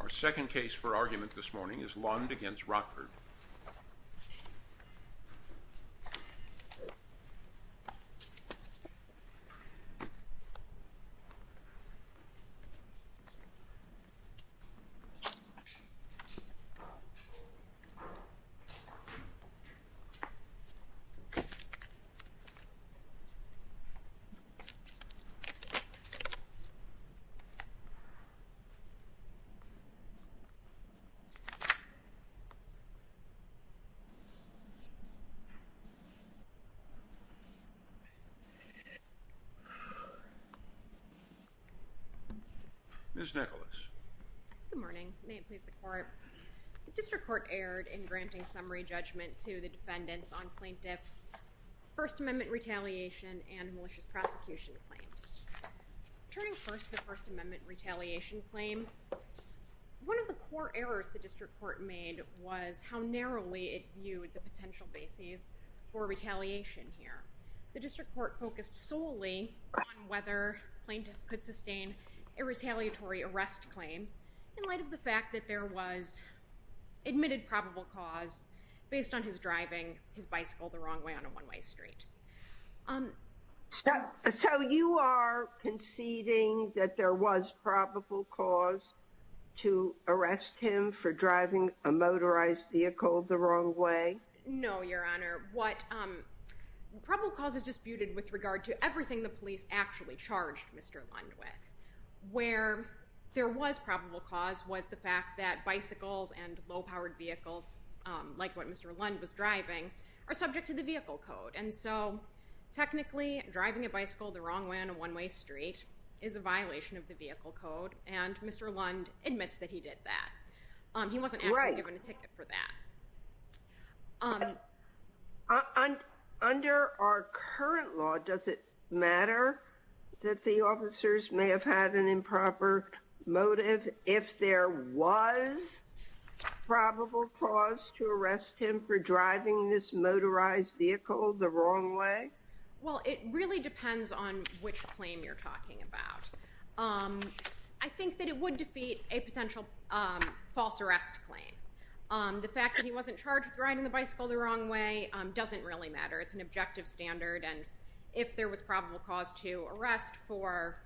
Our second case for argument this morning is Lund v. Rockford. The District Court erred in granting summary judgment to the defendants on plaintiffs' First Amendment retaliation and malicious prosecution claims. Turning first to the First Amendment retaliation claim, one of the core errors the District Court made was how narrowly it viewed the potential bases for retaliation here. The District Court focused solely on whether plaintiffs could sustain a retaliatory arrest claim in light of the fact that there was admitted probable cause based on his driving his bicycle the wrong way on a one-way street. So you are conceding that there was probable cause to arrest him for driving a motorized vehicle the wrong way? No, Your Honor. What probable cause is disputed with regard to everything the police actually charged Mr. Lund with. Where there was probable cause was the fact that bicycles and low-powered vehicles, like what Mr. Lund was driving, are subject to the vehicle code. And so, technically, driving a bicycle the wrong way on a one-way street is a violation of the vehicle code, and Mr. Lund admits that he did that. He wasn't actually given a ticket for that. Under our current law, does it matter that the officers may have had an improper motive if there was probable cause to arrest him for driving this motorized vehicle the wrong way? Well, it really depends on which claim you're talking about. I think that it would defeat a potential false arrest claim. The fact that he wasn't charged with riding the bicycle the wrong way doesn't really matter. It's an objective standard, and if there was probable cause to arrest for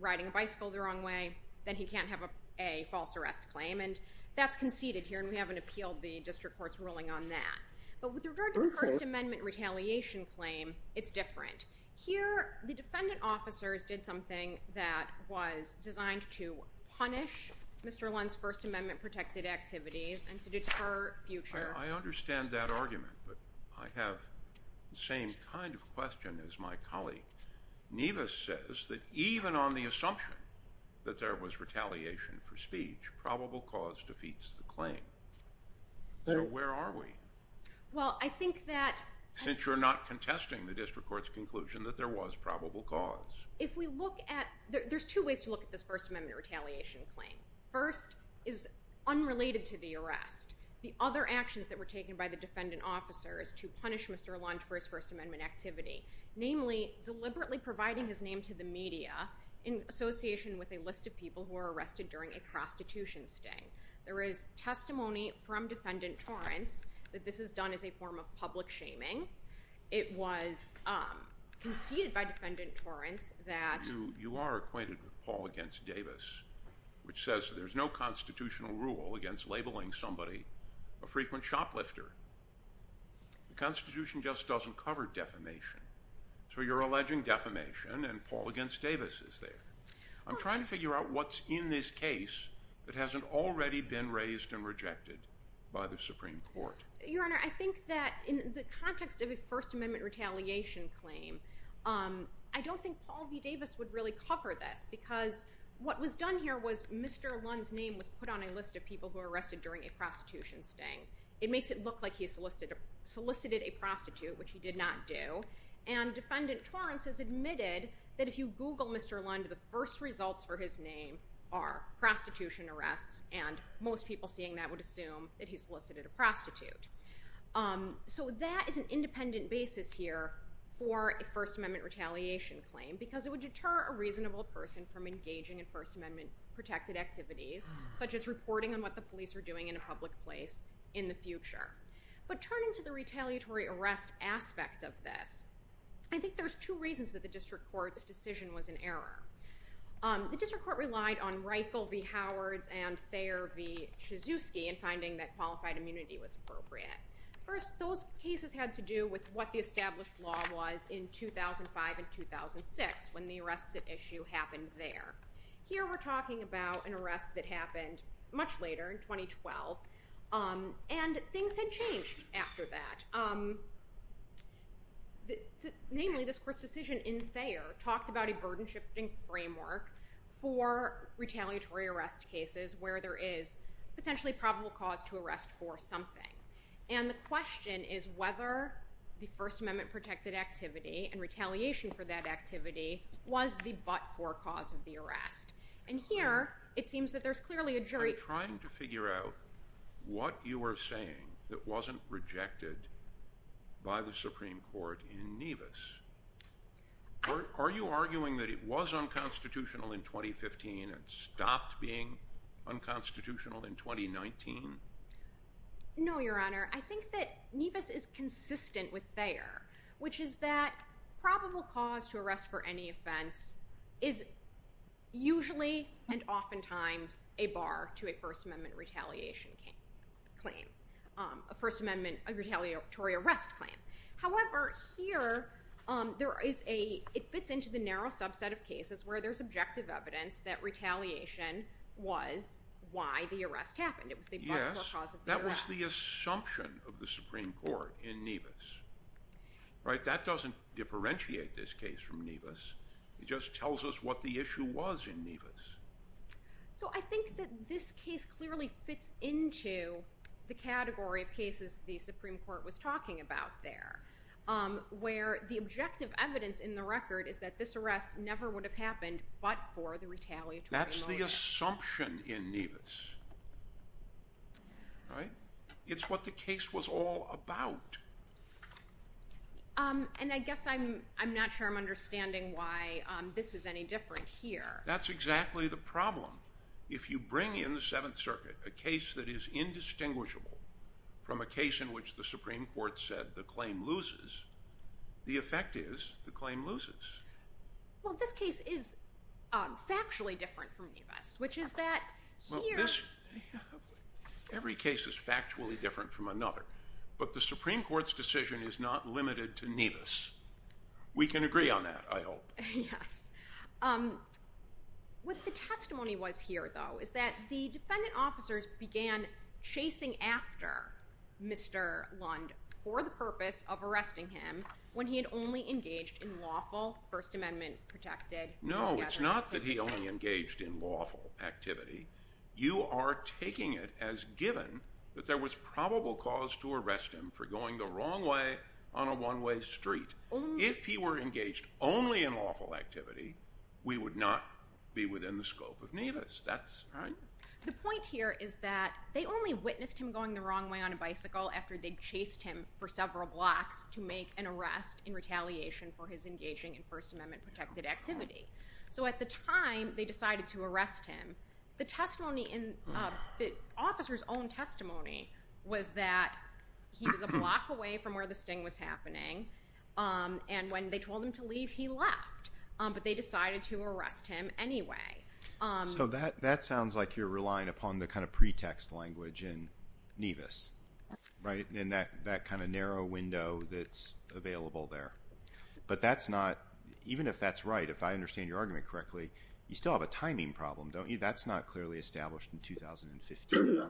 riding a bicycle the wrong way, then he can't have a false arrest claim. And that's conceded here, and we haven't appealed the district court's ruling on that. But with regard to the First Amendment retaliation claim, it's different. Here, the defendant officers did something that was designed to punish Mr. Lund's First Amendment-protected activities and to deter future— I understand that argument, but I have the same kind of question as my colleague. Nevis says that even on the assumption that there was retaliation for speech, probable cause defeats the claim. So where are we? Well, I think that— If we look at—there's two ways to look at this First Amendment retaliation claim. First is unrelated to the arrest. The other action that were taken by the defendant officers to punish Mr. Lund for his First Amendment activity, namely deliberately providing his name to the media in association with a list of people who were arrested during a prostitution sting. There is testimony from Defendant Torrance that this is done as a form of public shaming. It was conceded by Defendant Torrance that— You are acquainted with Paul v. Davis, which says there's no constitutional rule against labeling somebody a frequent shoplifter. The Constitution just doesn't cover defamation. So you're alleging defamation, and Paul v. Davis is there. I'm trying to figure out what's in this case that hasn't already been raised and rejected by the Supreme Court. Your Honor, I think that in the context of a First Amendment retaliation claim, I don't think Paul v. Davis would really cover this because what was done here was Mr. Lund's name was put on a list of people who were arrested during a prostitution sting. It makes it look like he solicited a prostitute, which he did not do. And Defendant Torrance has admitted that if you Google Mr. Lund, the first results for his name are prostitution arrests, and most people seeing that would assume that he solicited a prostitute. So that is an independent basis here for a First Amendment retaliation claim because it would deter a reasonable person from engaging in First Amendment-protected activities, such as reporting on what the police were doing in a public place in the future. But turning to the retaliatory arrest aspect of this, I think there's two reasons that the District Court's decision was in error. The District Court relied on Reichel v. Howards and Thayer v. Chizewski in finding that qualified immunity was appropriate. First, those cases had to do with what the established law was in 2005 and 2006, when the arrests at issue happened there. Here we're talking about an arrest that happened much later, in 2012, and things had changed after that. Namely, this Court's decision in Thayer talked about a burden-shifting framework for retaliatory arrest cases where there is potentially probable cause to arrest for something. And the question is whether the First Amendment-protected activity and retaliation for that activity was the but-for cause of the arrest. And here, it seems that there's clearly a jury... They're trying to figure out what you were saying that wasn't rejected by the Supreme Court in Nevis. Are you arguing that it was unconstitutional in 2015 and stopped being unconstitutional in 2019? No, Your Honor. I think that Nevis is consistent with Thayer, which is that probable cause to arrest for any offense is usually and oftentimes a bar to a First Amendment retaliation claim, a First Amendment retaliatory arrest claim. However, here it fits into the narrow subset of cases where there's objective evidence that retaliation was why the arrest happened. It was the but-for cause of the arrest. Yes, that was the assumption of the Supreme Court in Nevis. That doesn't differentiate this case from Nevis. It just tells us what the issue was in Nevis. So I think that this case clearly fits into the category of cases the Supreme Court was talking about there, where the objective evidence in the record is that this arrest never would have happened but for the retaliatory motive. That's the assumption in Nevis. Right? It's what the case was all about. And I guess I'm not sure I'm understanding why this is any different here. That's exactly the problem. If you bring in the Seventh Circuit a case that is indistinguishable from a case in which the Supreme Court said the claim loses, the effect is the claim loses. Well, this case is factually different from Nevis, which is that here... Every case is factually different from another, but the Supreme Court's decision is not limited to Nevis. We can agree on that, I hope. Yes. What the testimony was here, though, is that the defendant officers began chasing after Mr. Lund for the purpose of arresting him when he had only engaged in lawful, First Amendment-protected... No, it's not that he only engaged in lawful activity. You are taking it as given that there was probable cause to arrest him for going the wrong way on a one-way street. If he were engaged only in lawful activity, we would not be within the scope of Nevis. That's right? The point here is that they only witnessed him going the wrong way on a bicycle after they'd chased him for several blocks to make an arrest in retaliation for his engaging in First Amendment-protected activity. So at the time they decided to arrest him, the testimony in the officer's own testimony was that he was a block away from where the sting was happening, and when they told him to leave, he left. But they decided to arrest him anyway. So that sounds like you're relying upon the kind of pretext language in Nevis, in that kind of narrow window that's available there. But even if that's right, if I understand your argument correctly, you still have a timing problem, don't you? That's not clearly established in 2015.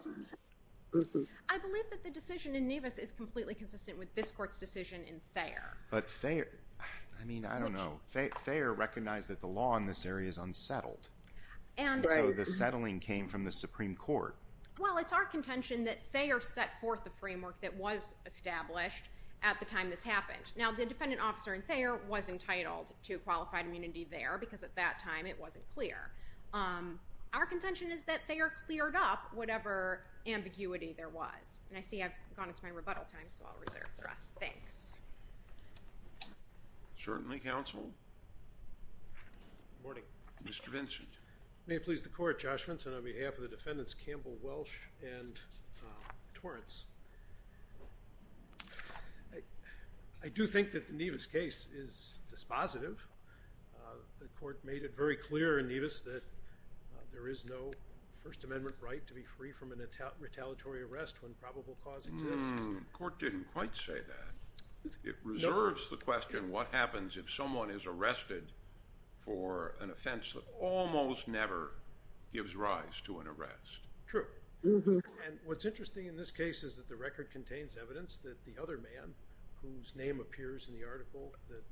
I believe that the decision in Nevis is completely consistent with this Court's decision in Thayer. But Thayer, I mean, I don't know. Thayer recognized that the law in this area is unsettled. And so the settling came from the Supreme Court. Well, it's our contention that Thayer set forth the framework that was established at the time this happened. Now, the defendant officer in Thayer was entitled to qualified immunity there because at that time it wasn't clear. Our contention is that Thayer cleared up whatever ambiguity there was. And I see I've gone into my rebuttal time, so I'll reserve the rest. Thanks. Certainly, counsel. Good morning. Mr. Vinson. May it please the Court, Judge Vinson, on behalf of the defendants Campbell-Welch and Torrance, I do think that the Nevis case is dispositive. The Court made it very clear in Nevis that there is no First Amendment right to be free from a retaliatory arrest when probable cause exists. The Court didn't quite say that. It reserves the question what happens if someone is arrested for an offense that almost never gives rise to an arrest. True. And what's interesting in this case is that the record contains evidence that the other man, whose name appears in the article that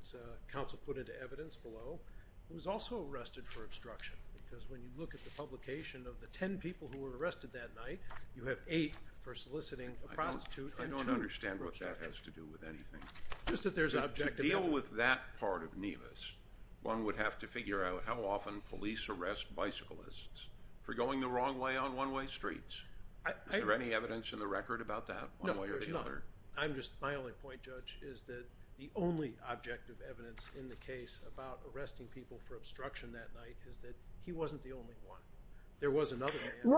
counsel put into evidence below, was also arrested for obstruction. Because when you look at the publication of the ten people who were arrested that night, you have eight for soliciting a prostitute and two for kidnapping. I don't understand what that has to do with anything. Just that there's an objective. To deal with that part of Nevis, one would have to figure out how often police arrest bicyclists for going the wrong way on one-way streets. No, there's not. My only point, Judge, is that the only objective evidence in the case about arresting people for obstruction that night is that he wasn't the only one. There was another man.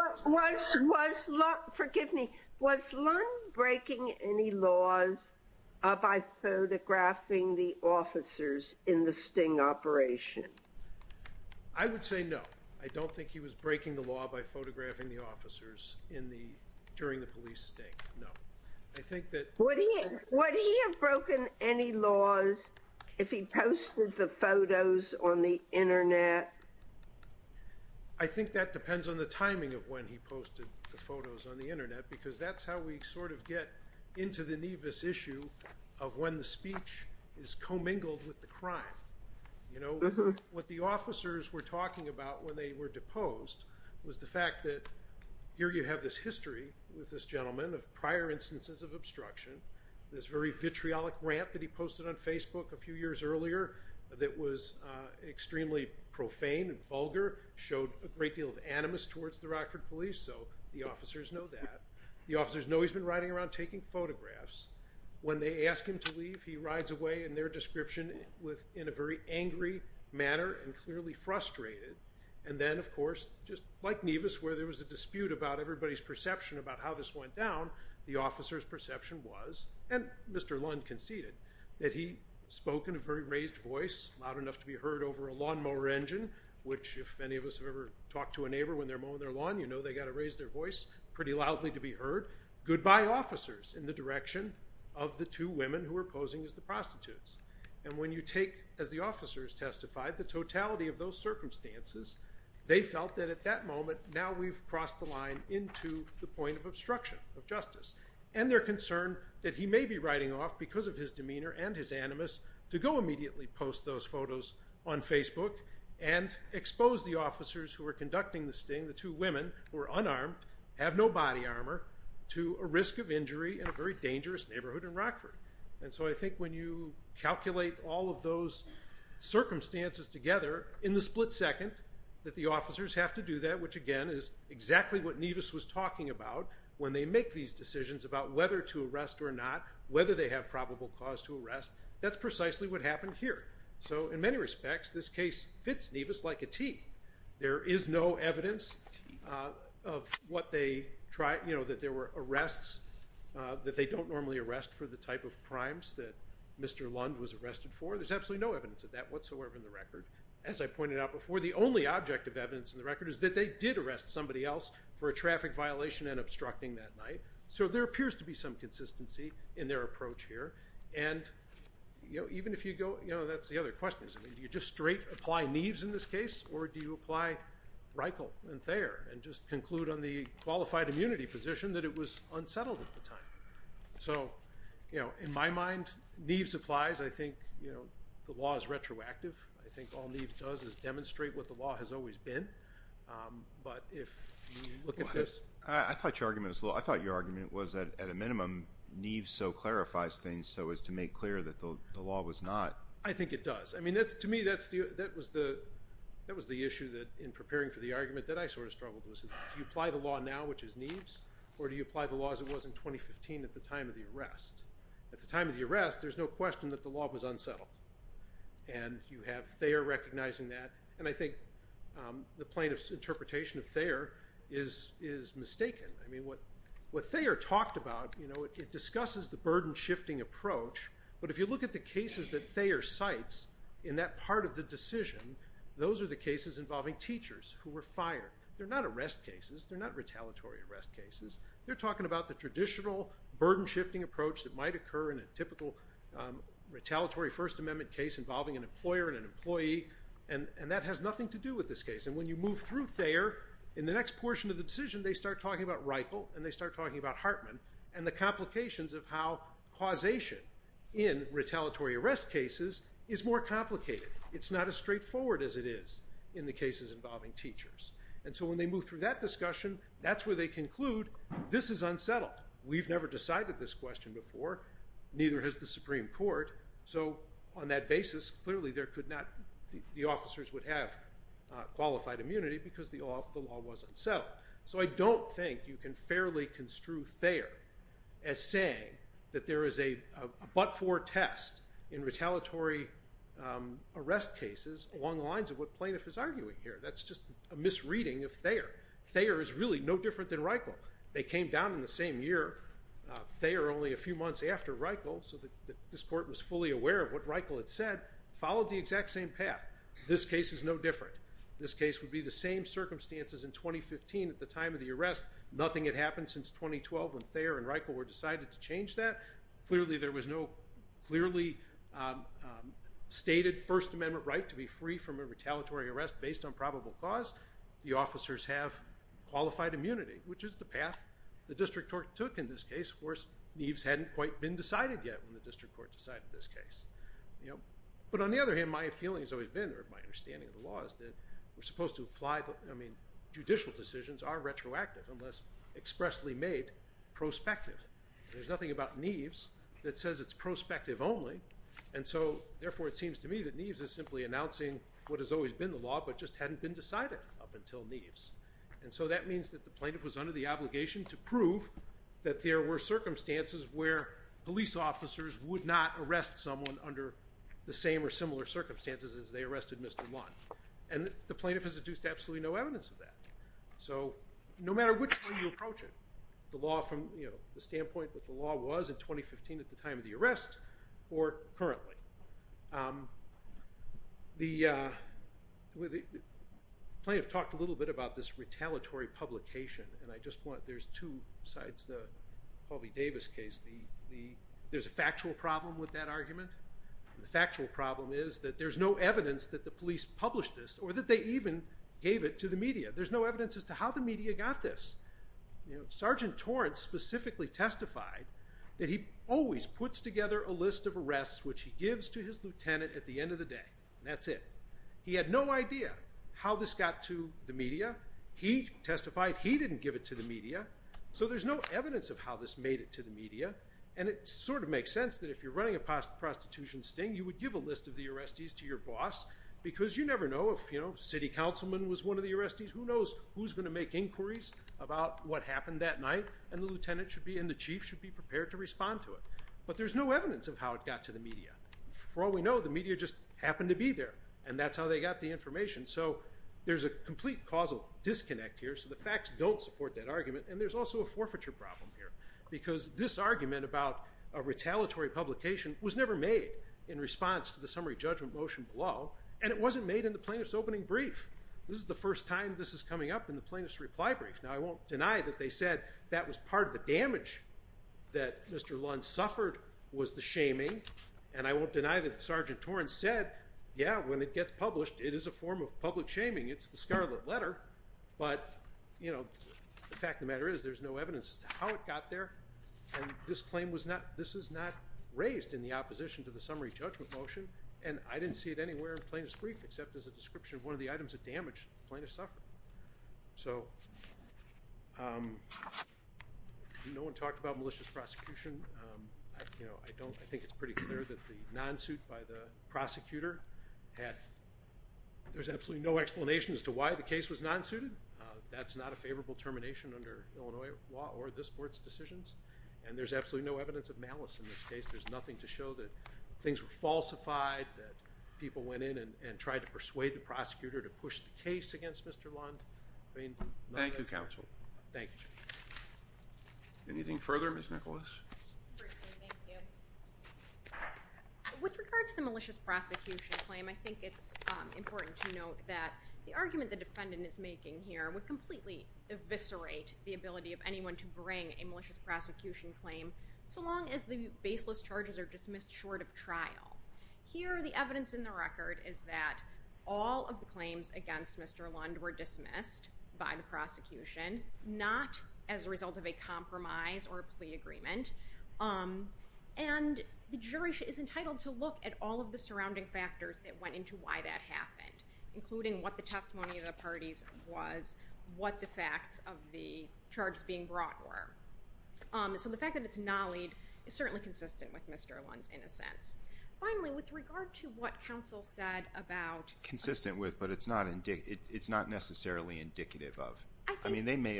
Forgive me. Was Lund breaking any laws by photographing the officers in the sting operation? I would say no. I don't think he was breaking the law by photographing the officers during the police sting. No. Would he have broken any laws if he posted the photos on the Internet? I think that depends on the timing of when he posted the photos on the Internet because that's how we sort of get into the Nevis issue of when the speech is commingled with the crime. What the officers were talking about when they were deposed was the fact that here you have this history with this gentleman of prior instances of obstruction, this very vitriolic rant that he posted on Facebook a few years earlier that was extremely profane and vulgar, showed a great deal of animus towards the Rockford police, so the officers know that. The officers know he's been riding around taking photographs. When they ask him to leave, he rides away in their description in a very angry manner and clearly frustrated. And then, of course, just like Nevis where there was a dispute about everybody's perception about how this went down, the officers' perception was, and Mr. Lund conceded, that he spoke in a very raised voice, loud enough to be heard over a lawnmower engine, which if any of us have ever talked to a neighbor when they're mowing their lawn, you know they've got to raise their voice pretty loudly to be heard. Goodbye, officers, in the direction of the two women who were posing as the prostitutes. And when you take, as the officers testified, the totality of those circumstances, they felt that at that moment now we've crossed the line into the point of obstruction of justice. And they're concerned that he may be riding off because of his demeanor and his animus to go immediately post those photos on Facebook and expose the officers who were conducting the sting, the two women who were unarmed, have no body armor, to a risk of injury in a very dangerous neighborhood in Rockford. And so I think when you calculate all of those circumstances together in the split second that the officers have to do that, which again is exactly what Nevis was talking about when they make these decisions about whether to arrest or not, whether they have probable cause to arrest, that's precisely what happened here. So in many respects, this case fits Nevis like a T. There is no evidence of what they tried, you know, that there were arrests, that they don't normally arrest for the type of crimes that Mr. Lund was arrested for. There's absolutely no evidence of that whatsoever in the record. As I pointed out before, the only object of evidence in the record is that they did arrest somebody else for a traffic violation and obstructing that night. So there appears to be some consistency in their approach here. And even if you go, you know, that's the other question. Do you just straight apply Nevis in this case, or do you apply Reichel and Thayer and just conclude on the qualified immunity position that it was unsettled at the time? So, you know, in my mind, Nevis applies. I think, you know, the law is retroactive. I think all Nevis does is demonstrate what the law has always been. But if you look at this. I thought your argument was at a minimum Nevis so clarifies things so as to make clear that the law was not. I think it does. I mean, to me, that was the issue in preparing for the argument that I sort of struggled with. Do you apply the law now, which is Nevis, or do you apply the law as it was in 2015 at the time of the arrest? At the time of the arrest, there's no question that the law was unsettled. And you have Thayer recognizing that. And I think the plaintiff's interpretation of Thayer is mistaken. I mean, what Thayer talked about, you know, it discusses the burden-shifting approach. But if you look at the cases that Thayer cites in that part of the decision, those are the cases involving teachers who were fired. They're not arrest cases. They're not retaliatory arrest cases. They're talking about the traditional burden-shifting approach that might occur in a typical retaliatory First Amendment case involving an employer and an employee. And that has nothing to do with this case. And when you move through Thayer, in the next portion of the decision, they start talking about Reichel and they start talking about Hartman and the complications of how causation in retaliatory arrest cases is more complicated. It's not as straightforward as it is in the cases involving teachers. And so when they move through that discussion, that's where they conclude this is unsettled. We've never decided this question before. Neither has the Supreme Court. So on that basis, clearly the officers would have qualified immunity because the law was unsettled. So I don't think you can fairly construe Thayer as saying that there is a but-for test in retaliatory arrest cases along the lines of what plaintiff is arguing here. That's just a misreading of Thayer. Thayer is really no different than Reichel. They came down in the same year. Thayer only a few months after Reichel, so this court was fully aware of what Reichel had said, followed the exact same path. This case is no different. This case would be the same circumstances in 2015 at the time of the arrest. Nothing had happened since 2012 when Thayer and Reichel were decided to change that. Clearly there was no clearly stated First Amendment right to be free from a retaliatory arrest based on probable cause. The officers have qualified immunity, which is the path the district court took in this case. Of course, Neves hadn't quite been decided yet when the district court decided this case. But on the other hand, my feeling has always been, or my understanding of the law, is that we're supposed to apply the, I mean, judicial decisions are retroactive unless expressly made prospective. There's nothing about Neves that says it's prospective only, and so therefore it seems to me that Neves is simply announcing what has always been the law, but just hadn't been decided up until Neves. And so that means that the plaintiff was under the obligation to prove that there were circumstances where police officers would not arrest someone under the same or similar circumstances as they arrested Mr. Lund. And the plaintiff has deduced absolutely no evidence of that. So no matter which way you approach it, the law from the standpoint that the law was in 2015 at the time of the arrest or currently. The plaintiff talked a little bit about this retaliatory publication, and I just want, there's two sides to the Halvey-Davis case. There's a factual problem with that argument. The factual problem is that there's no evidence that the police published this or that they even gave it to the media. There's no evidence as to how the media got this. Sergeant Torrance specifically testified that he always puts together a list of arrests, which he gives to his lieutenant at the end of the day, and that's it. He had no idea how this got to the media. He testified he didn't give it to the media. So there's no evidence of how this made it to the media, and it sort of makes sense that if you're running a prostitution sting, you would give a list of the arrestees to your boss, because you never know if city councilman was one of the arrestees. Who knows who's going to make inquiries about what happened that night, and the lieutenant and the chief should be prepared to respond to it. But there's no evidence of how it got to the media. For all we know, the media just happened to be there, and that's how they got the information. So there's a complete causal disconnect here, so the facts don't support that argument, and there's also a forfeiture problem here, because this argument about a retaliatory publication was never made in response to the summary judgment motion below, and it wasn't made in the plaintiff's opening brief. This is the first time this is coming up in the plaintiff's reply brief. Now, I won't deny that they said that was part of the damage that Mr. Lund suffered was the shaming, and I won't deny that Sergeant Torrence said, yeah, when it gets published, it is a form of public shaming. It's the scarlet letter, but, you know, the fact of the matter is there's no evidence as to how it got there, and this claim was not raised in the opposition to the summary judgment motion, and I didn't see it anywhere in the plaintiff's brief except as a description of one of the items that damaged the plaintiff's suffering. So no one talked about malicious prosecution. You know, I think it's pretty clear that the non-suit by the prosecutor had no explanation as to why the case was non-suited. That's not a favorable termination under Illinois law or this Court's decisions, and there's absolutely no evidence of malice in this case. There's nothing to show that things were falsified, that people went in and tried to persuade the prosecutor to push the case against Mr. Lund. Thank you, counsel. Thank you. Anything further, Ms. Nicholas? Thank you. With regard to the malicious prosecution claim, I think it's important to note that the argument the defendant is making here would completely eviscerate the ability of anyone to bring a malicious prosecution claim so long as the baseless charges are dismissed short of trial. Here, the evidence in the record is that all of the claims against Mr. Lund were dismissed by the prosecution, not as a result of a compromise or a plea agreement, and the jury is entitled to look at all of the surrounding factors that went into why that happened, including what the testimony of the parties was, what the facts of the charges being brought were. So the fact that it's nollied is certainly consistent with Mr. Lund's innocence. Finally, with regard to what counsel said about Consistent with, but it's not necessarily indicative of. I mean, they may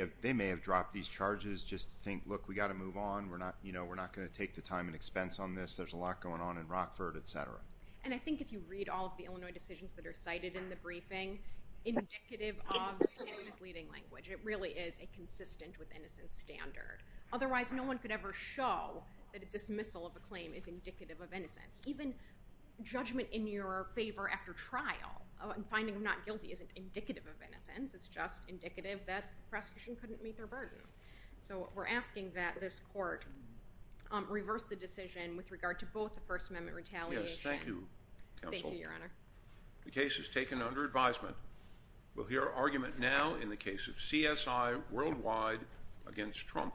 have dropped these charges just to think, look, we've got to move on, we're not going to take the time and expense on this, there's a lot going on in Rockford, et cetera. And I think if you read all of the Illinois decisions that are cited in the briefing, indicative of his misleading language. It really is a consistent with innocence standard. Otherwise, no one could ever show that a dismissal of a claim is indicative of innocence. Even judgment in your favor after trial and finding him not guilty isn't indicative of innocence, it's just indicative that the prosecution couldn't meet their burden. So we're asking that this court reverse the decision with regard to both the First Amendment retaliation. Yes, thank you, counsel. Thank you, Your Honor. The case is taken under advisement. We'll hear argument now in the case of CSI worldwide against Trump.